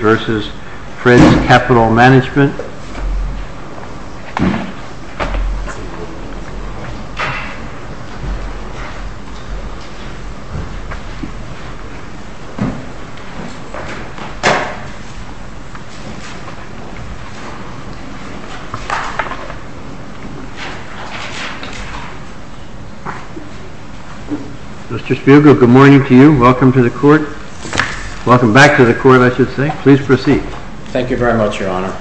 Mr. Spiegel, good morning to you. Welcome to the court. Welcome back to the court, I should say. Please proceed. Thank you very much, Your Honor.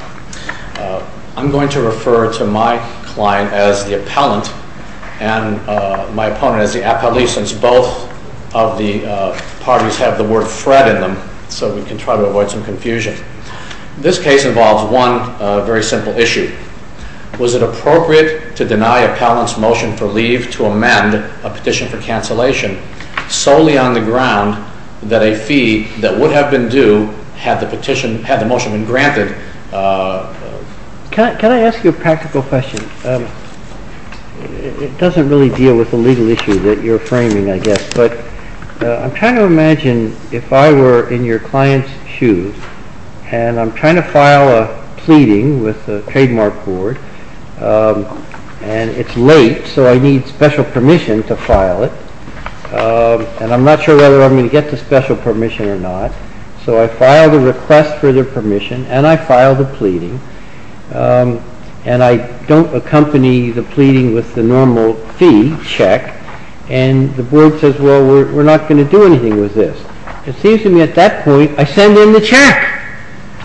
I'm going to refer to my client as the appellant and my opponent as the appellee, since both of the parties have the word Fred in them, so we can try to avoid some confusion. This case involves one very simple issue. Was it appropriate to deny an appellant's motion for leave to amend a petition for cancellation solely on the ground that a fee that would have been due had the motion been granted? Can I ask you a practical question? It doesn't really deal with the legal issue that you're framing, I guess, but I'm trying to imagine if I were in your client's shoes and I'm trying to file a pleading with a trademark board and it's late, so I need special permission to file it, and I'm not sure whether I'm going to get the special permission or not, so I file the request for the permission and I file the pleading, and I don't accompany the pleading with the normal fee, check, and the board says, well, we're not going to do anything with this. It seems to me at that point, I send in the check,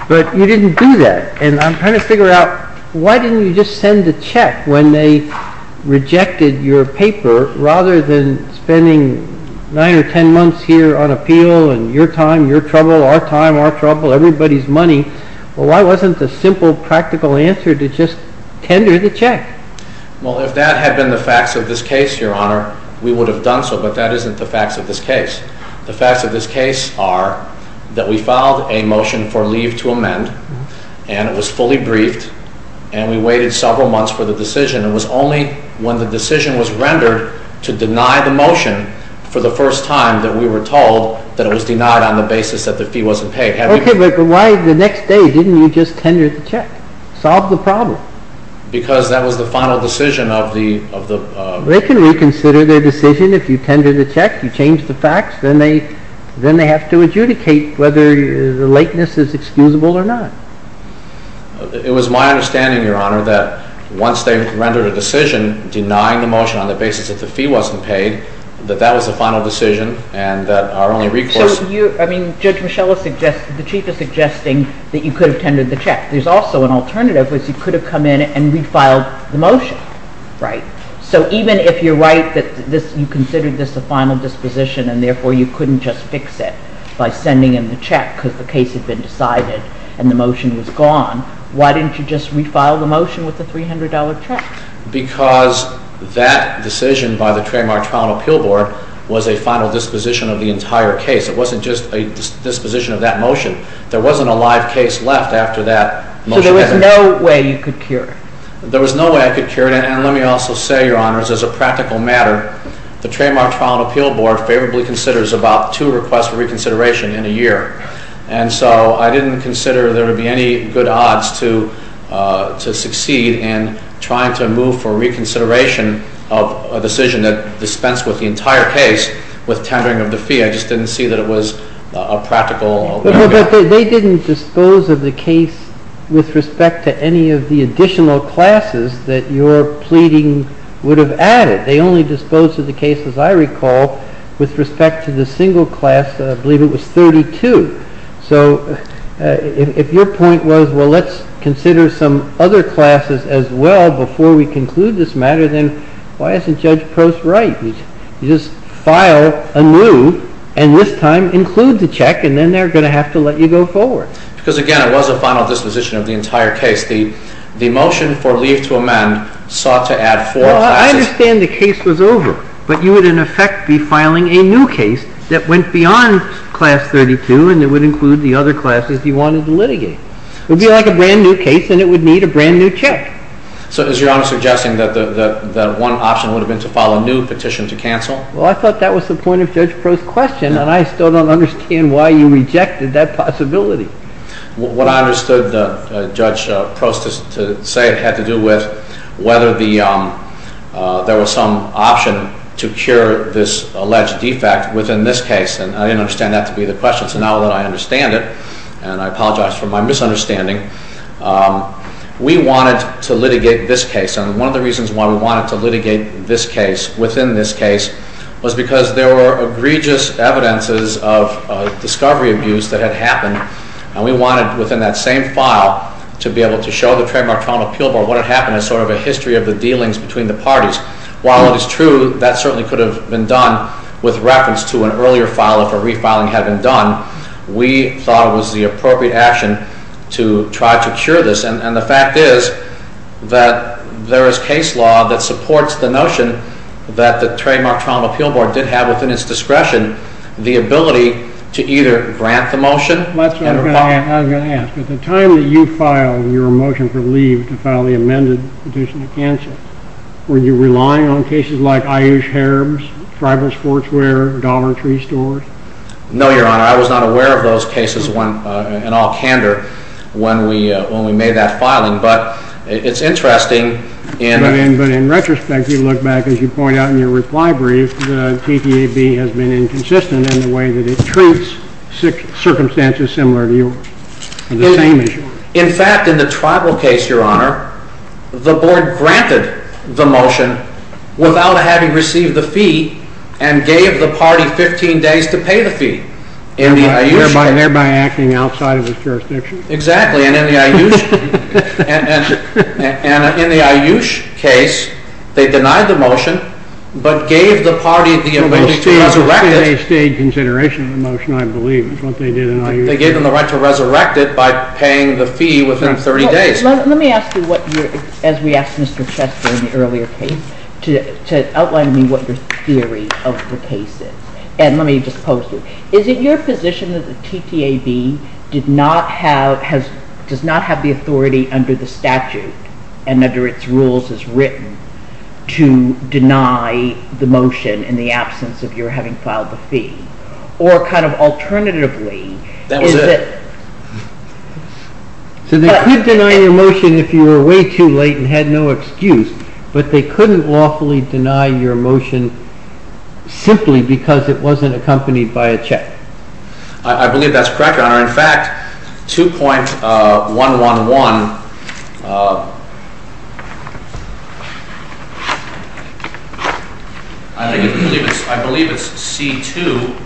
but you didn't do that, and I'm trying to figure out why didn't you just send the check when they rejected your paper rather than spending nine or ten months here on appeal and your time, your trouble, our time, our trouble, everybody's money. Well, why wasn't the simple practical answer to just tender the check? Well, if that had been the facts of this case, Your Honor, we would have done so, but that isn't the facts of this case. The facts of this case are that we filed a motion for leave to amend, and it was fully briefed, and we waited several months for the decision. It was only when the decision was rendered to deny the motion for the first time that we were told that it was denied on the basis that the fee wasn't paid. Okay, but why the next day didn't you just tender the check? Solve the problem. Because that was the final decision of the… They can reconsider their decision if you tender the check, you change the facts, then they have to adjudicate whether the lateness is excusable or not. It was my understanding, Your Honor, that once they rendered a decision denying the motion on the basis that the fee wasn't paid, that that was the final decision, and that our only recourse… But you, I mean, Judge Michelle is suggesting, the Chief is suggesting that you could have tendered the check. There's also an alternative, which is you could have come in and refiled the motion, right? So even if you're right that you considered this a final disposition and therefore you couldn't just fix it by sending in the check because the case had been decided and the motion was gone, why didn't you just refile the motion with the $300 check? Because that decision by the Trademark Trial and Appeal Board was a final disposition of the entire case. It wasn't just a disposition of that motion. There wasn't a live case left after that motion. So there was no way you could cure it? There was no way I could cure it, and let me also say, Your Honors, as a practical matter, the Trademark Trial and Appeal Board favorably considers about two requests for reconsideration in a year. And so I didn't consider there would be any good odds to succeed in trying to move for reconsideration of a decision that dispensed with the entire case with tendering of the fee. I just didn't see that it was a practical… But they didn't dispose of the case with respect to any of the additional classes that you're pleading would have added. They only disposed of the case, as I recall, with respect to the single class, I believe it was 32. So if your point was, well, let's consider some other classes as well before we conclude this matter, then why isn't Judge Post right? You just file a new, and this time include the check, and then they're going to have to let you go forward. Because, again, it was a final disposition of the entire case. The motion for leave to amend sought to add four classes. I understand the case was over, but you would, in effect, be filing a new case that went beyond Class 32, and it would include the other classes you wanted to litigate. It would be like a brand new case, and it would need a brand new check. So is Your Honor suggesting that one option would have been to file a new petition to cancel? Well, I thought that was the point of Judge Post's question, and I still don't understand why you rejected that possibility. What I understood Judge Post to say had to do with whether there was some option to cure this alleged defect within this case, and I didn't understand that to be the question. So now that I understand it, and I apologize for my misunderstanding, we wanted to litigate this case. And one of the reasons why we wanted to litigate this case, within this case, was because there were egregious evidences of discovery abuse that had happened. And we wanted, within that same file, to be able to show the trademark trauma appeal board what had happened as sort of a history of the dealings between the parties. While it is true that certainly could have been done with reference to an earlier file if a refiling had been done, we thought it was the appropriate action to try to cure this. And the fact is that there is case law that supports the notion that the trademark trauma appeal board did have within its discretion the ability to either grant the motion and refile. That's what I was going to ask. At the time that you filed your motion for leave to file the amended petition to cancel, were you relying on cases like Ayush Herb's, Driver's Sportswear, Dollar Tree Stores? No, Your Honor. I was not aware of those cases in all candor when we made that filing. But it's interesting. But in retrospect, you look back, as you point out in your reply brief, the TTAB has been inconsistent in the way that it treats circumstances similar to yours. In the same issue. The board granted the motion without having received the fee and gave the party 15 days to pay the fee in the Ayush case. Thereby acting outside of its jurisdiction. Exactly. And in the Ayush case, they denied the motion but gave the party the ability to resurrect it. They stayed in consideration of the motion, I believe, is what they did in Ayush. They gave them the right to resurrect it by paying the fee within 30 days. Let me ask you, as we asked Mr. Chester in the earlier case, to outline to me what your theory of the case is. And let me just post it. Is it your position that the TTAB does not have the authority under the statute and under its rules as written to deny the motion in the absence of your having filed the fee? Or kind of alternatively, is it… That was it. So they could deny your motion if you were way too late and had no excuse. But they couldn't lawfully deny your motion simply because it wasn't accompanied by a check. I believe that's correct, Your Honor. In fact, 2.111, I believe it's C2,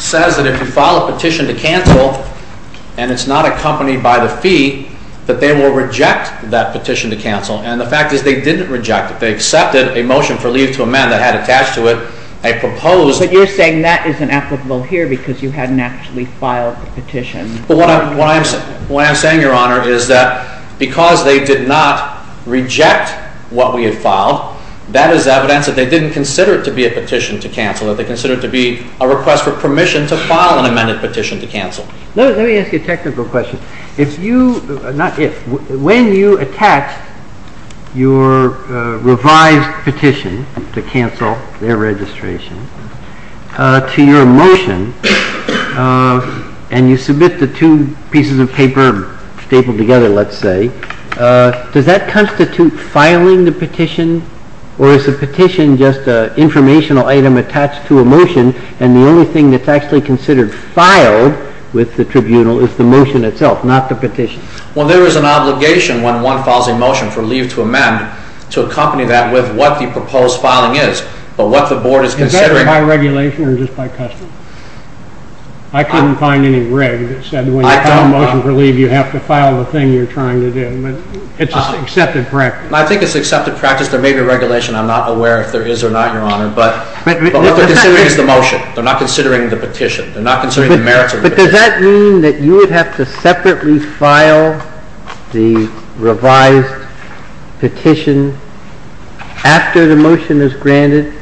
says that if you file a petition to cancel and it's not accompanied by the fee, that they will reject that petition to cancel. And the fact is they didn't reject it. They accepted a motion for leave to amend that had attached to it a proposed… Well, what I'm saying, Your Honor, is that because they did not reject what we had filed, that is evidence that they didn't consider it to be a petition to cancel, that they considered it to be a request for permission to file an amended petition to cancel. Let me ask you a technical question. If you… Not if. When you attach your revised petition to cancel their registration to your motion and you submit the two pieces of paper stapled together, let's say, does that constitute filing the petition? Or is the petition just an informational item attached to a motion and the only thing that's actually considered filed with the tribunal is the motion itself, not the petition? Well, there is an obligation when one files a motion for leave to amend to accompany that with what the proposed filing is. But what the Board is considering… Is that by regulation or just by custom? I couldn't find any rig that said when you file a motion for leave, you have to file the thing you're trying to do. But it's an accepted practice. I think it's an accepted practice. There may be a regulation. I'm not aware if there is or not, Your Honor. But what they're considering is the motion. They're not considering the petition. They're not considering the merits of the petition. But does that mean that you would have to separately file the revised petition after the motion is granted?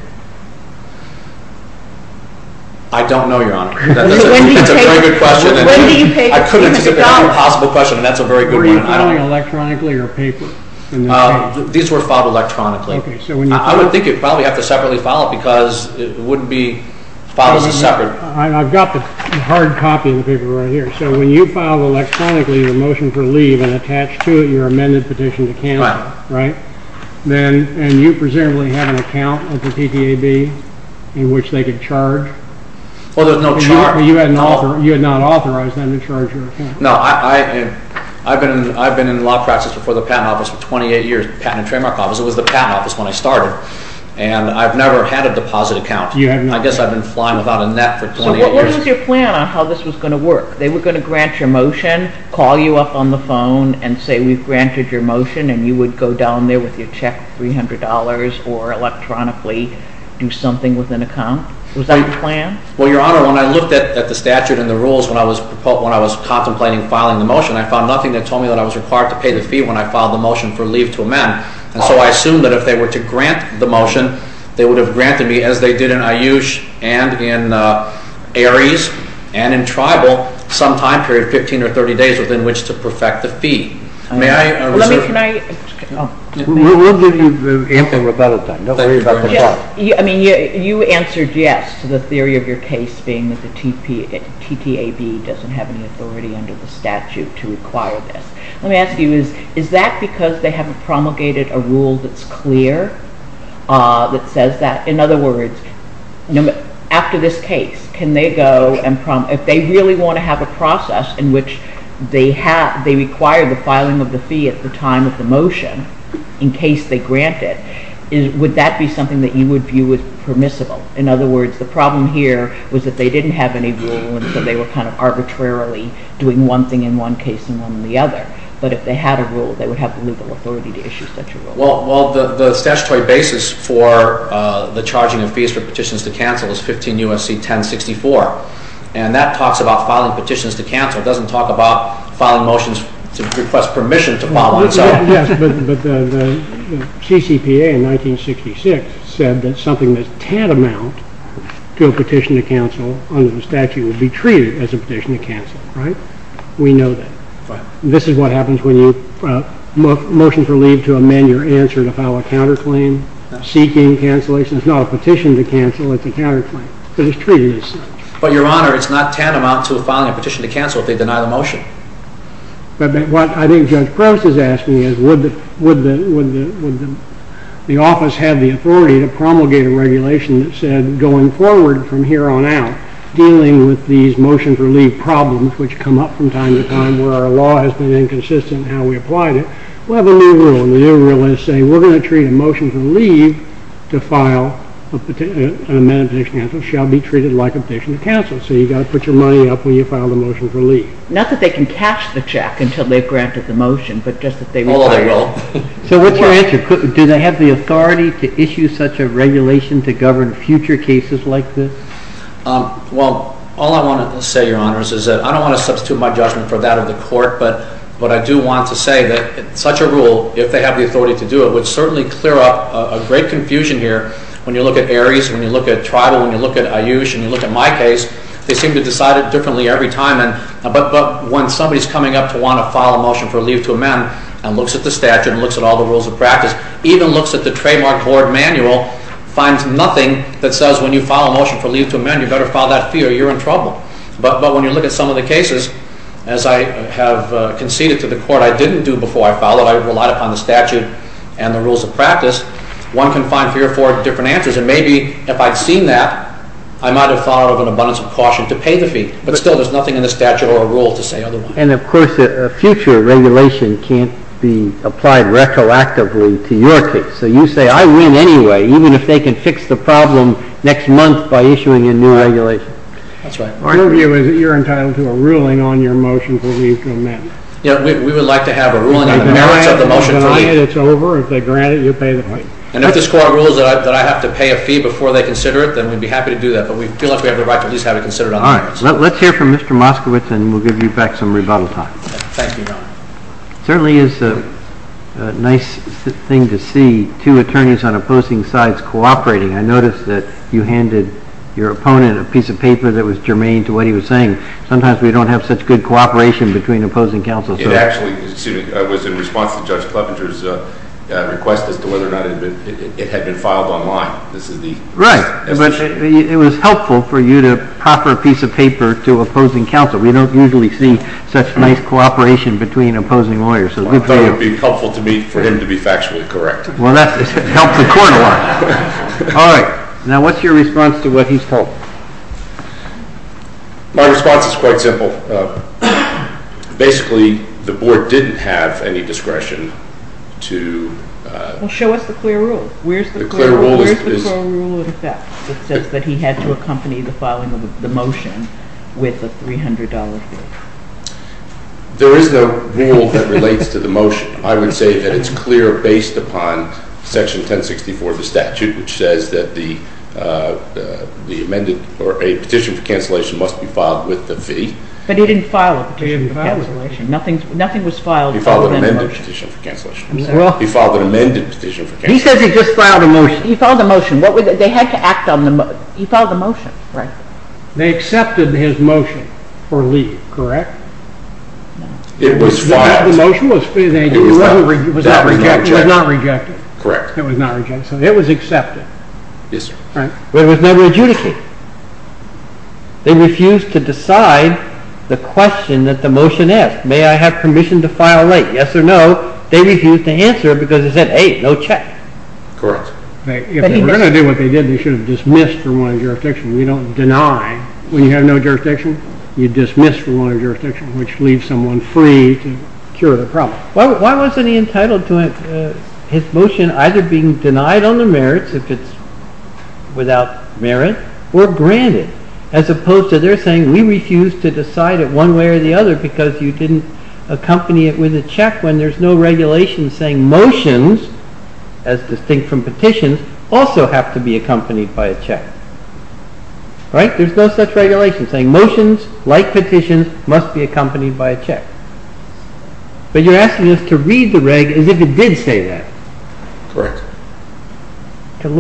I don't know, Your Honor. That's a very good question. I couldn't think of any possible question, and that's a very good one. Are you filing electronically or paper? These were filed electronically. I would think you'd probably have to separately file it because it wouldn't be filed as a separate… I've got the hard copy of the paper right here. So when you file electronically the motion for leave and attach to it your amended petition to count, right? And you presumably have an account with the PTAB in which they could charge? Well, there's no charge. You had not authorized them to charge your account. No. I've been in law practice before the Patent Office for 28 years, Patent and Trademark Office. It was the Patent Office when I started. And I've never had a deposit account. I guess I've been flying without a net for 28 years. So what was your plan on how this was going to work? They were going to grant your motion, call you up on the phone and say we've granted your motion, and you would go down there with your check, $300, or electronically do something with an account? Was that the plan? Well, Your Honor, when I looked at the statute and the rules when I was contemplating filing the motion, I found nothing that told me that I was required to pay the fee when I filed the motion for leave to amend. And so I assumed that if they were to grant the motion, they would have granted me, as they did in AYUSH and in ARIES and in tribal, some time period, 15 or 30 days, within which to perfect the fee. May I reserve? We'll give you Anthony Rabella time. I mean, you answered yes to the theory of your case being that the TTAB doesn't have any authority under the statute to require this. Let me ask you, is that because they haven't promulgated a rule that's clear that says that? In other words, after this case, can they go and – if they really want to have a process in which they require the filing of the fee at the time of the motion in case they grant it, would that be something that you would view as permissible? In other words, the problem here was that they didn't have any rule and so they were kind of arbitrarily doing one thing in one case and one in the other. But if they had a rule, they would have the legal authority to issue such a rule. Well, the statutory basis for the charging of fees for petitions to cancel is 15 U.S.C. 1064. And that talks about filing petitions to cancel. It doesn't talk about filing motions to request permission to file on its own. Yes, but the CCPA in 1966 said that something that's tantamount to a petition to cancel under the statute would be treated as a petition to cancel, right? We know that. This is what happens when motions are leaved to amend your answer to file a counterclaim, seeking cancellation. It's not a petition to cancel, it's a counterclaim because it's treated as such. But, Your Honor, it's not tantamount to filing a petition to cancel if they deny the motion. But what I think Judge Prevost is asking is would the office have the authority to promulgate a regulation that said going forward from here on out, dealing with these motion for leave problems which come up from time to time where our law has been inconsistent in how we applied it, we'll have a new rule. And the new rule is saying we're going to treat a motion for leave to file an amendment to petition to cancel shall be treated like a petition to cancel. So you've got to put your money up when you file the motion for leave. Not that they can cash the check until they've granted the motion, but just that they require it. Oh, they will. So what's your answer? Do they have the authority to issue such a regulation to govern future cases like this? Well, all I want to say, Your Honor, is that I don't want to substitute my judgment for that of the court, but what I do want to say that such a rule, if they have the authority to do it, would certainly clear up a great confusion here when you look at Aries, when you look at Tribal, when you look at Ayush, and you look at my case. They seem to decide it differently every time. But when somebody's coming up to want to file a motion for leave to amend and looks at the statute and looks at all the rules of practice, even looks at the trademark court manual, finds nothing that says when you file a motion for leave to amend, you better file that fee or you're in trouble. But when you look at some of the cases, as I have conceded to the court I didn't do before I filed it, I relied upon the statute and the rules of practice, one can find three or four different answers. And maybe if I'd seen that, I might have thought of an abundance of caution to pay the fee. But still, there's nothing in the statute or a rule to say otherwise. And, of course, a future regulation can't be applied retroactively to your case. So you say, I win anyway, even if they can fix the problem next month by issuing a new regulation. That's right. Your view is that you're entitled to a ruling on your motion for leave to amend. We would like to have a ruling on the merits of the motion to leave. If they grant it, it's over. If they grant it, you pay the fee. And if this court rules that I have to pay a fee before they consider it, then we'd be happy to do that. But we feel like we have the right to at least have it considered on the merits. All right. Let's hear from Mr. Moskowitz and we'll give you back some rebuttal time. Thank you, Your Honor. It certainly is a nice thing to see two attorneys on opposing sides cooperating. I noticed that you handed your opponent a piece of paper that was germane to what he was saying. Sometimes we don't have such good cooperation between opposing counsels. It actually was in response to Judge Clevenger's request as to whether or not it had been filed online. Right. But it was helpful for you to offer a piece of paper to opposing counsel. We don't usually see such nice cooperation between opposing lawyers. I thought it would be helpful for him to be factually correct. Well, that helps the court a lot. All right. Now, what's your response to what he's told? My response is quite simple. Basically, the board didn't have any discretion to- Well, show us the clear rule. The clear rule is- Where's the clear rule in effect that says that he had to accompany the filing of the motion with a $300 fee? There is no rule that relates to the motion. I would say that it's clear based upon Section 1064 of the statute, which says that the amended or a petition for cancellation must be filed with the fee. But he didn't file a petition for cancellation. Nothing was filed other than the motion. He filed an amended petition for cancellation. He filed an amended petition for cancellation. He says he just filed a motion. He filed a motion. They had to act on the motion. He filed a motion. Right. They accepted his motion for leave, correct? No. It was filed. The motion was filed. It was not rejected. Correct. It was not rejected. So it was accepted. Yes, sir. Right. But it was never adjudicated. They refused to decide the question that the motion asked. May I have permission to file late? Yes or no. They refused to answer because it said, hey, no check. Correct. If they were going to do what they did, they should have dismissed from wanting jurisdiction. You don't deny when you have no jurisdiction. You dismiss from wanting jurisdiction, which leaves someone free to cure the problem. Why wasn't he entitled to his motion either being denied on the merits if it's without merit, or granted, as opposed to they're saying we refuse to decide it one way or the other because you didn't accompany it with a check when there's no regulation saying motions, as distinct from petitions, also have to be accompanied by a check. Right? There's no such regulation saying motions, like petitions, must be accompanied by a check. But you're asking us to read the reg as if it did say that. Correct. We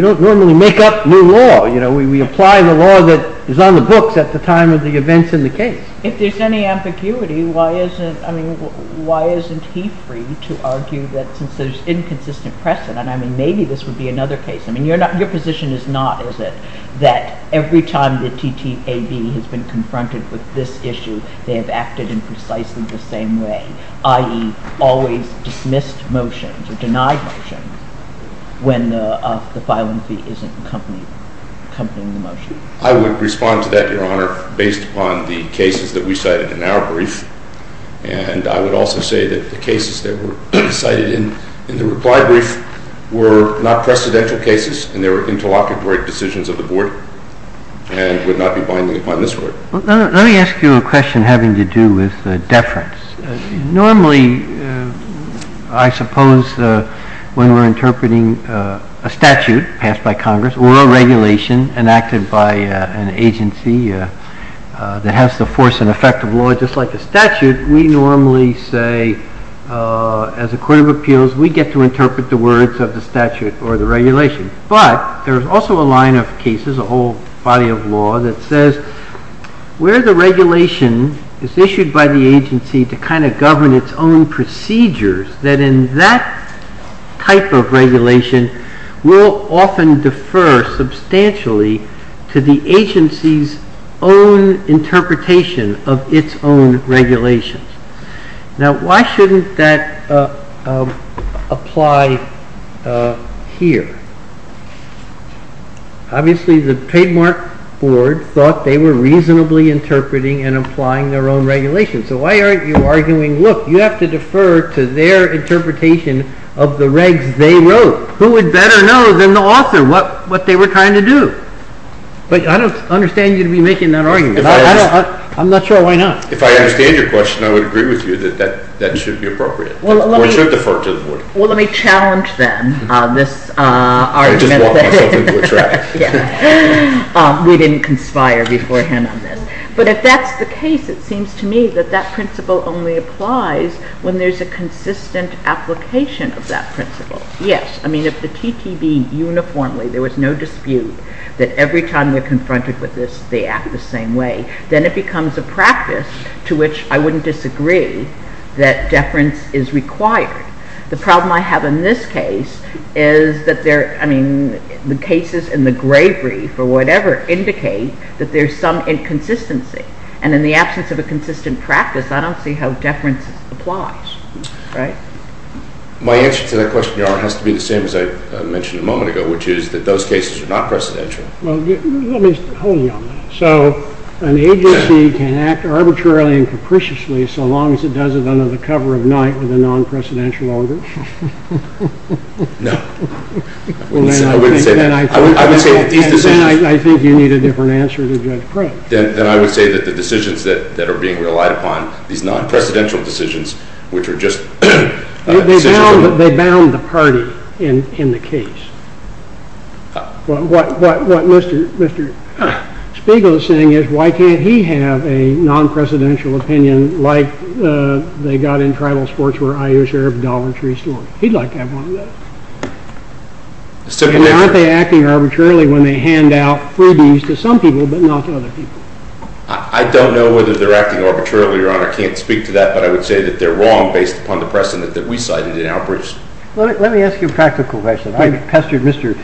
don't normally make up new law. We apply the law that is on the books at the time of the events in the case. If there's any ambiguity, why isn't he free to argue that since there's inconsistent precedent, maybe this would be another case. Your position is not, is it, that every time the TTAB has been confronted with this issue, they have acted in precisely the same way, i.e., always dismissed motions or denied motions, when the filing fee isn't accompanying the motion. I would respond to that, Your Honor, based upon the cases that we cited in our brief. And I would also say that the cases that were cited in the reply brief were not precedential cases, and they were interlocutory decisions of the Board and would not be binding upon this Court. Let me ask you a question having to do with deference. Normally, I suppose, when we're interpreting a statute passed by Congress or a regulation enacted by an agency that has the force and effect of law, just like a statute, we normally say, as a Court of Appeals, we get to interpret the words of the statute or the regulation. But there's also a line of cases, a whole body of law, that says where the regulation is issued by the agency to kind of govern its own procedures, that in that type of regulation will often defer substantially to the agency's own interpretation of its own regulations. Now, why shouldn't that apply here? Obviously, the trademark Board thought they were reasonably interpreting and applying their own regulations. So why aren't you arguing, look, you have to defer to their interpretation of the regs they wrote? Who would better know than the author what they were trying to do? But I don't understand you to be making that argument. I'm not sure why not. If I understand your question, I would agree with you that that should be appropriate. Or it should defer to the Board. Well, let me challenge them on this argument. I just walked myself into a trap. We didn't conspire beforehand on this. But if that's the case, it seems to me that that principle only applies when there's a consistent application of that principle. Yes. I mean, if the TTB uniformly, there was no dispute that every time they're confronted with this, they act the same way, then it becomes a practice to which I wouldn't disagree that deference is required. The problem I have in this case is that there, I mean, the cases in the Grave Reef or whatever indicate that there's some inconsistency. And in the absence of a consistent practice, I don't see how deference applies. Right? My answer to that question, Your Honor, has to be the same as I mentioned a moment ago, which is that those cases are not precedential. Well, let me hold you on that. So an agency can act arbitrarily and capriciously so long as it does it under the cover of night with a non-precedential order? No. I wouldn't say that. I would say that these decisions— Then I think you need a different answer to Judge Craig. Then I would say that the decisions that are being relied upon, these non-precedential decisions, which are just— They bound the party in the case. What Mr. Spiegel is saying is why can't he have a non-precedential opinion like they got in tribal sports where Iowa Sheriff Dollar Tree scored? He'd like to have one of those. And aren't they acting arbitrarily when they hand out freebies to some people but not to other people? I don't know whether they're acting arbitrarily, Your Honor. I can't speak to that. But I would say that they're wrong based upon the precedent that we cited in our briefs. Let me ask you a practical question. I pestered Mr.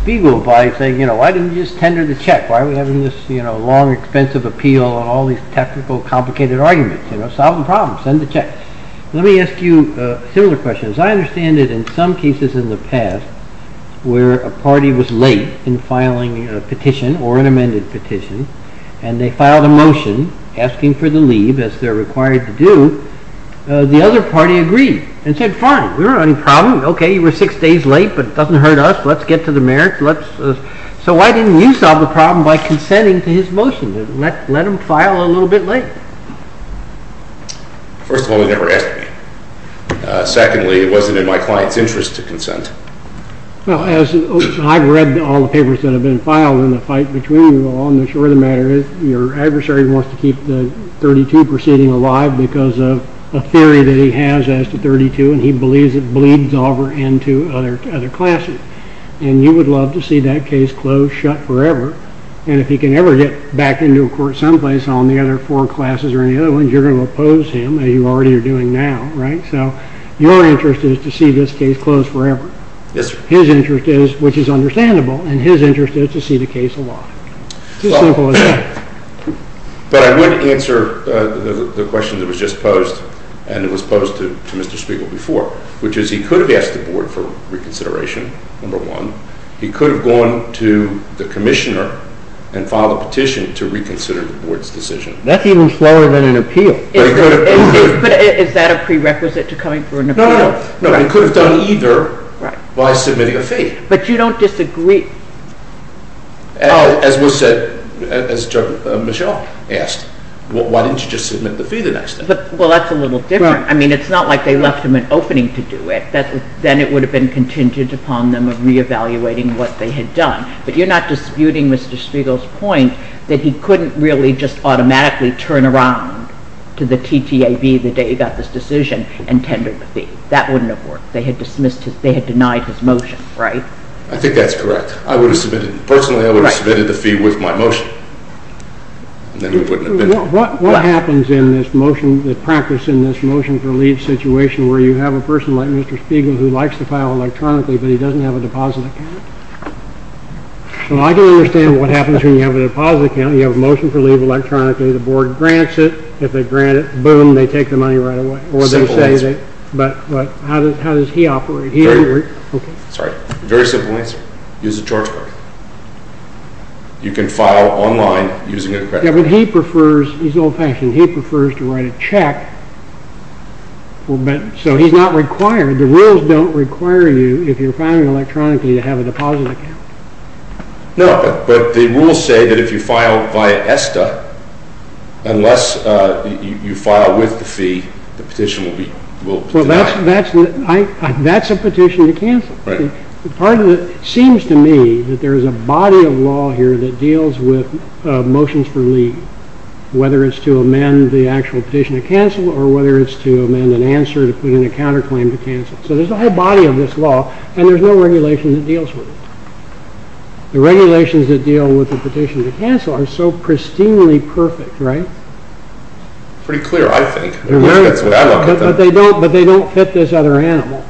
Spiegel by saying, you know, why didn't you just tender the check? Why are we having this long, expensive appeal and all these technical, complicated arguments? Solve the problem. Send the check. Let me ask you a similar question. As I understand it, in some cases in the past where a party was late in filing a petition or an amended petition and they filed a motion asking for the leave as they're required to do, the other party agreed and said, fine. We don't have any problem. Okay, you were six days late, but it doesn't hurt us. Let's get to the merits. So why didn't you solve the problem by consenting to his motion? Let him file a little bit late. First of all, he never asked me. Secondly, it wasn't in my client's interest to consent. Well, as I've read all the papers that have been filed in the fight between you all, your adversary wants to keep the 32 proceeding alive because of a theory that he has as to 32, and he believes it bleeds over into other classes. And you would love to see that case closed shut forever. And if he can ever get back into a court someplace on the other four classes or any other ones, you're going to oppose him, as you already are doing now, right? So your interest is to see this case closed forever. Yes, sir. His interest is, which is understandable, and his interest is to see the case alive. But I would answer the question that was just posed, and it was posed to Mr. Spiegel before, which is he could have asked the board for reconsideration, number one. He could have gone to the commissioner and filed a petition to reconsider the board's decision. That's even slower than an appeal. Is that a prerequisite to coming for an appeal? No, no, no. He could have done either by submitting a fee. But you don't disagree. As was said, as Michelle asked, why didn't you just submit the fee the next day? Well, that's a little different. I mean, it's not like they left him an opening to do it. Then it would have been contingent upon them re-evaluating what they had done. But you're not disputing Mr. Spiegel's point that he couldn't really just automatically turn around to the TTAB the day he got this decision and tender the fee. That wouldn't have worked. They had denied his motion, right? I think that's correct. Personally, I would have submitted the fee with my motion. What happens in the practice in this motion for leave situation where you have a person like Mr. Spiegel who likes to file electronically, but he doesn't have a deposit account? Well, I can understand what happens when you have a deposit account. You have a motion for leave electronically. The board grants it. If they grant it, boom, they take the money right away. Simple as that. But how does he operate? Sorry. Very simple answer. Use a charge card. You can file online using a credit card. Yeah, but he prefers, he's old-fashioned. He prefers to write a check, so he's not required. The rules don't require you, if you're filing electronically, to have a deposit account. No, but the rules say that if you file via ESTA, unless you file with the fee, the petition will be denied. Well, that's a petition to cancel. It seems to me that there's a body of law here that deals with motions for leave, whether it's to amend the actual petition to cancel or whether it's to amend an answer to put in a counterclaim to cancel. So there's a whole body of this law, and there's no regulation that deals with it. The regulations that deal with the petition to cancel are so pristinely perfect, right? Pretty clear, I think. But they don't fit this other animal.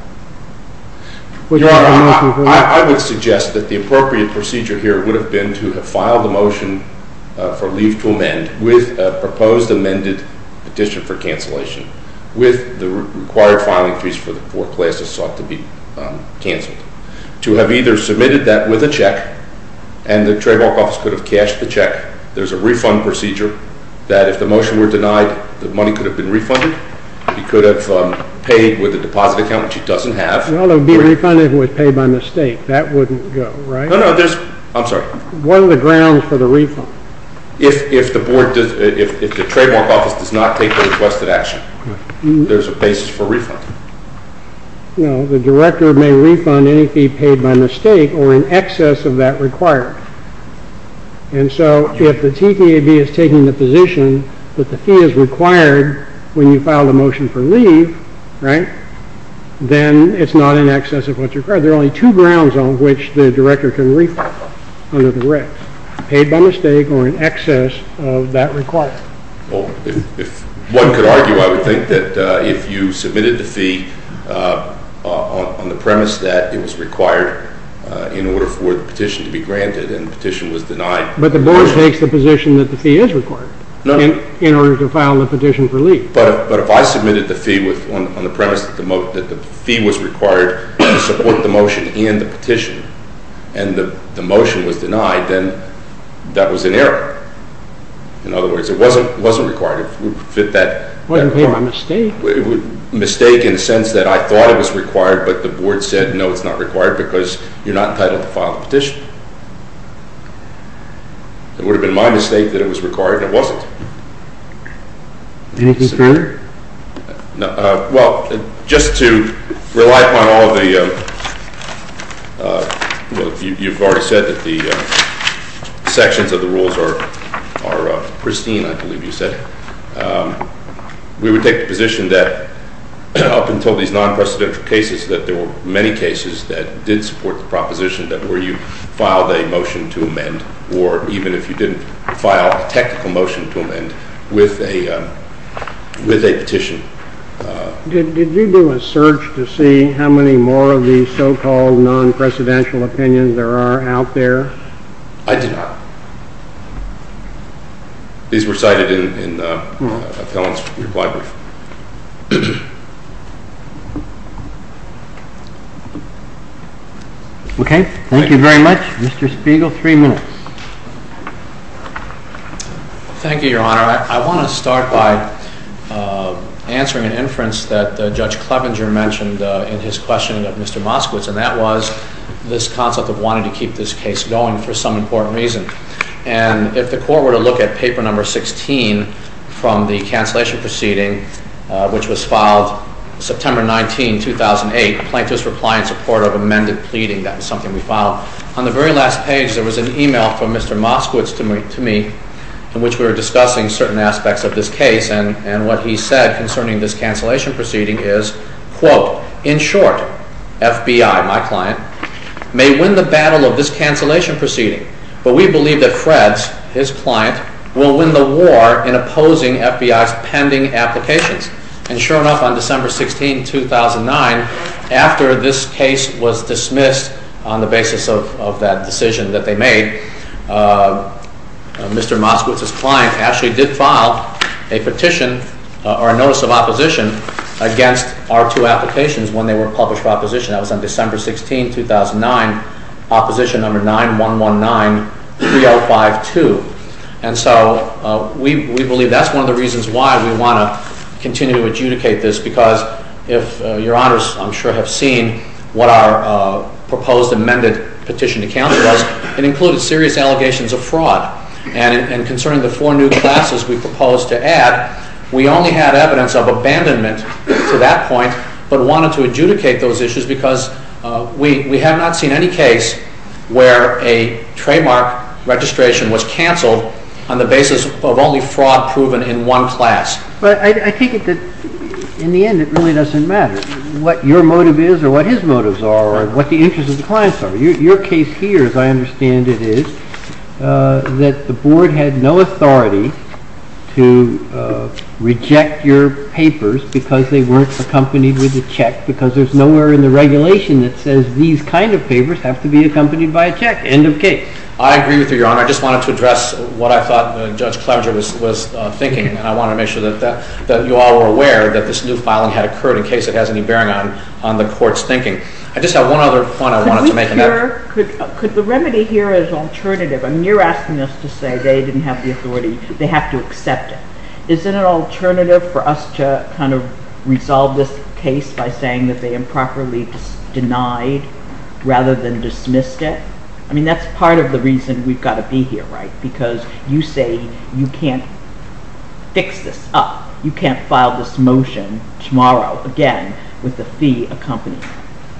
I would suggest that the appropriate procedure here would have been to have filed a motion for leave to amend with a proposed amended petition for cancellation with the required filing fees for the four classes sought to be canceled. To have either submitted that with a check, and the trademark office could have cashed the check. There's a refund procedure that if the motion were denied, the money could have been refunded. He could have paid with a deposit account, which he doesn't have. Well, it would be refunded if it was paid by mistake. That wouldn't go, right? No, no. I'm sorry. What are the grounds for the refund? If the trademark office does not take the requested action, there's a basis for refund. No, the director may refund any fee paid by mistake or in excess of that required. And so if the TTAB is taking the position that the fee is required when you file the motion for leave, right, then it's not in excess of what's required. There are only two grounds on which the director can refund under the recs, paid by mistake or in excess of that required. If one could argue, I would think that if you submitted the fee on the premise that it was required in order for the petition to be granted and the petition was denied. But the board takes the position that the fee is required in order to file the petition for leave. But if I submitted the fee on the premise that the fee was required to support the motion and the petition, and the motion was denied, then that was an error. In other words, it wasn't required. It wasn't paid by mistake? Mistake in the sense that I thought it was required, but the board said, no, it's not required because you're not entitled to file the petition. It would have been my mistake that it was required, and it wasn't. Anything further? Well, just to rely upon all of the, you've already said that the sections of the rules are pristine, I believe you said. We would take the position that up until these non-presidential cases that there were many cases that did support the proposition that where you filed a motion to amend, or even if you didn't file a technical motion to amend, with a petition. Did you do a search to see how many more of these so-called non-presidential opinions there are out there? I did not. These were cited in a felon's reply brief. Okay, thank you very much. Mr. Spiegel, three minutes. Thank you, Your Honor. I want to start by answering an inference that Judge Clevenger mentioned in his question of Mr. Moskowitz, and that was this concept of wanting to keep this case going for some important reason. And if the court were to look at paper number 16 from the cancellation proceeding, which was filed September 19, 2008, plaintiff's reply in support of amended pleading, that was something we filed. On the very last page, there was an email from Mr. Moskowitz to me in which we were discussing certain aspects of this case, and what he said concerning this cancellation proceeding is, quote, In short, FBI, my client, may win the battle of this cancellation proceeding, but we believe that Fred's, his client, will win the war in opposing FBI's pending applications. And sure enough, on December 16, 2009, after this case was dismissed on the basis of that decision that they made, Mr. Moskowitz's client actually did file a petition, or a notice of opposition, against our two applications when they were published for opposition. That was on December 16, 2009, opposition number 9-119-3052. And so we believe that's one of the reasons why we want to continue to adjudicate this, because if Your Honors, I'm sure, have seen what our proposed amended petition to counsel was, it included serious allegations of fraud, and concerning the four new classes we proposed to add, we only had evidence of abandonment to that point, but wanted to adjudicate those issues because we have not seen any case where a trademark registration was canceled on the basis of only fraud proven in one class. But I take it that, in the end, it really doesn't matter what your motive is, or what his motives are, or what the interests of the clients are. Your case here, as I understand it, is that the Board had no authority to reject your papers because they weren't accompanied with a check, because there's nowhere in the regulation that says these kind of papers have to be accompanied by a check. End of case. I agree with you, Your Honor. I just wanted to address what I thought Judge Clemenger was thinking, and I wanted to make sure that you all were aware that this new filing had occurred, in case it has any bearing on the Court's thinking. I just had one other point I wanted to make. Could the remedy here as an alternative? I mean, you're asking us to say they didn't have the authority, they have to accept it. Is it an alternative for us to kind of resolve this case by saying that they improperly denied, rather than dismissed it? I mean, that's part of the reason we've got to be here, right? Because you say you can't fix this up. You can't file this motion tomorrow, again, with the fee accompanied.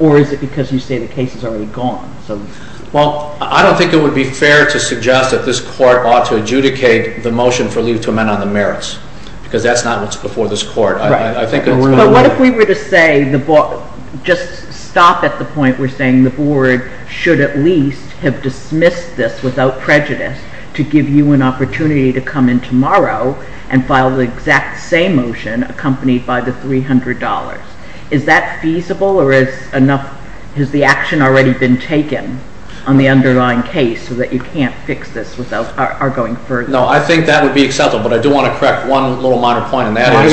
Or is it because you say the case is already gone? I don't think it would be fair to suggest that this Court ought to adjudicate the motion for leave to amend on the merits, because that's not what's before this Court. But what if we were to say, just stop at the point where we're saying the Board should at least have dismissed this without prejudice to give you an opportunity to come in tomorrow and file the exact same motion accompanied by the $300? Is that feasible, or has the action already been taken on the underlying case so that you can't fix this without our going further? No, I think that would be acceptable, but I do want to correct one little minor point, and that is—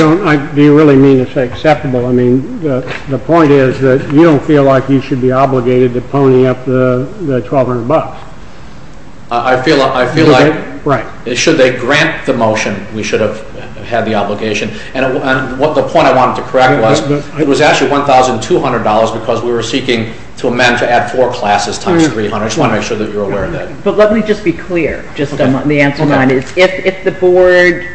Do you really mean to say acceptable? I mean, the point is that you don't feel like you should be obligated to pony up the $1,200. I feel like, should they grant the motion, we should have had the obligation. And the point I wanted to correct was, it was actually $1,200 because we were seeking to amend to add four classes times $300. I just want to make sure that you're aware of that. But let me just be clear, just on the answer line. If the Board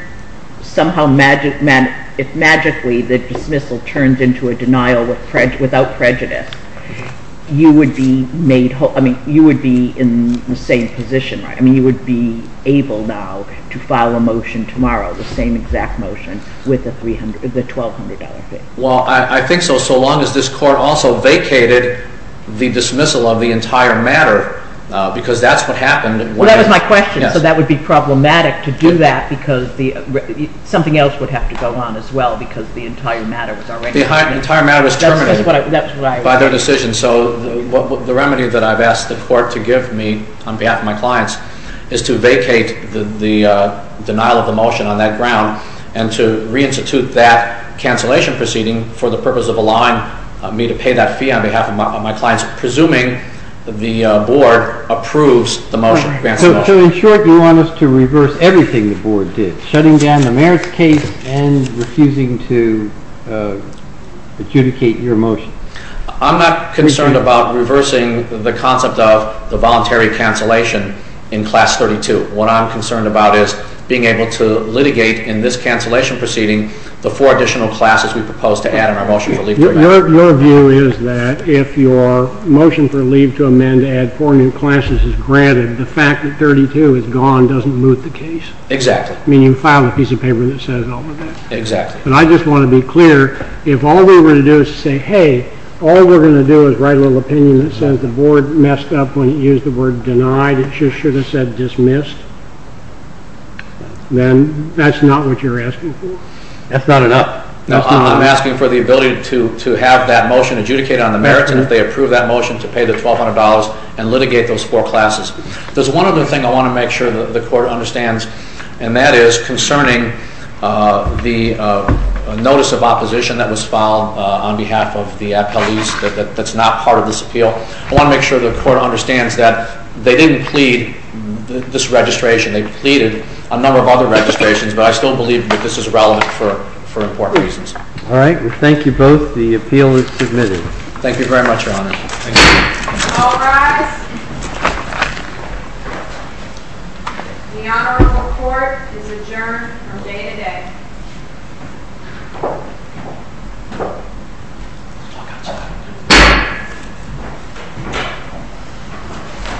somehow magically—if magically the dismissal turns into a denial without prejudice, you would be in the same position, right? I mean, you would be able now to file a motion tomorrow, the same exact motion, with the $1,200. Well, I think so, so long as this Court also vacated the dismissal of the entire matter, because that's what happened when— Well, that was my question. So that would be problematic to do that because something else would have to go on as well because the entire matter was already— The entire matter was terminated by their decision. So the remedy that I've asked the Court to give me on behalf of my clients is to vacate the denial of the motion on that ground and to reinstitute that cancellation proceeding for the purpose of allowing me to pay that fee on behalf of my clients, presuming the Board approves the motion, grants the motion. So in short, you want us to reverse everything the Board did, shutting down the merits case and refusing to adjudicate your motion. I'm not concerned about reversing the concept of the voluntary cancellation in Class 32. What I'm concerned about is being able to litigate in this cancellation proceeding the four additional classes we proposed to add in our motion for leave to amend. Your view is that if your motion for leave to amend to add four new classes is granted, the fact that 32 is gone doesn't move the case? Exactly. Meaning you file a piece of paper that says all of that? Exactly. And I just want to be clear, if all we were to do is say, hey, all we're going to do is write a little opinion that says the Board messed up when it used the word denied, it should have said dismissed, then that's not what you're asking for? That's not enough. No, I'm asking for the ability to have that motion adjudicated on the merits and if they approve that motion to pay the $1,200 and litigate those four classes. There's one other thing I want to make sure the Court understands, and that is concerning the notice of opposition that was filed on behalf of the appellees that's not part of this appeal. I want to make sure the Court understands that they didn't plead this registration. They pleaded a number of other registrations, but I still believe that this is relevant for important reasons. All right. We thank you both. The appeal is submitted. Thank you very much, Your Honor. Thank you. All rise. The Honorable Court is adjourned from day to day.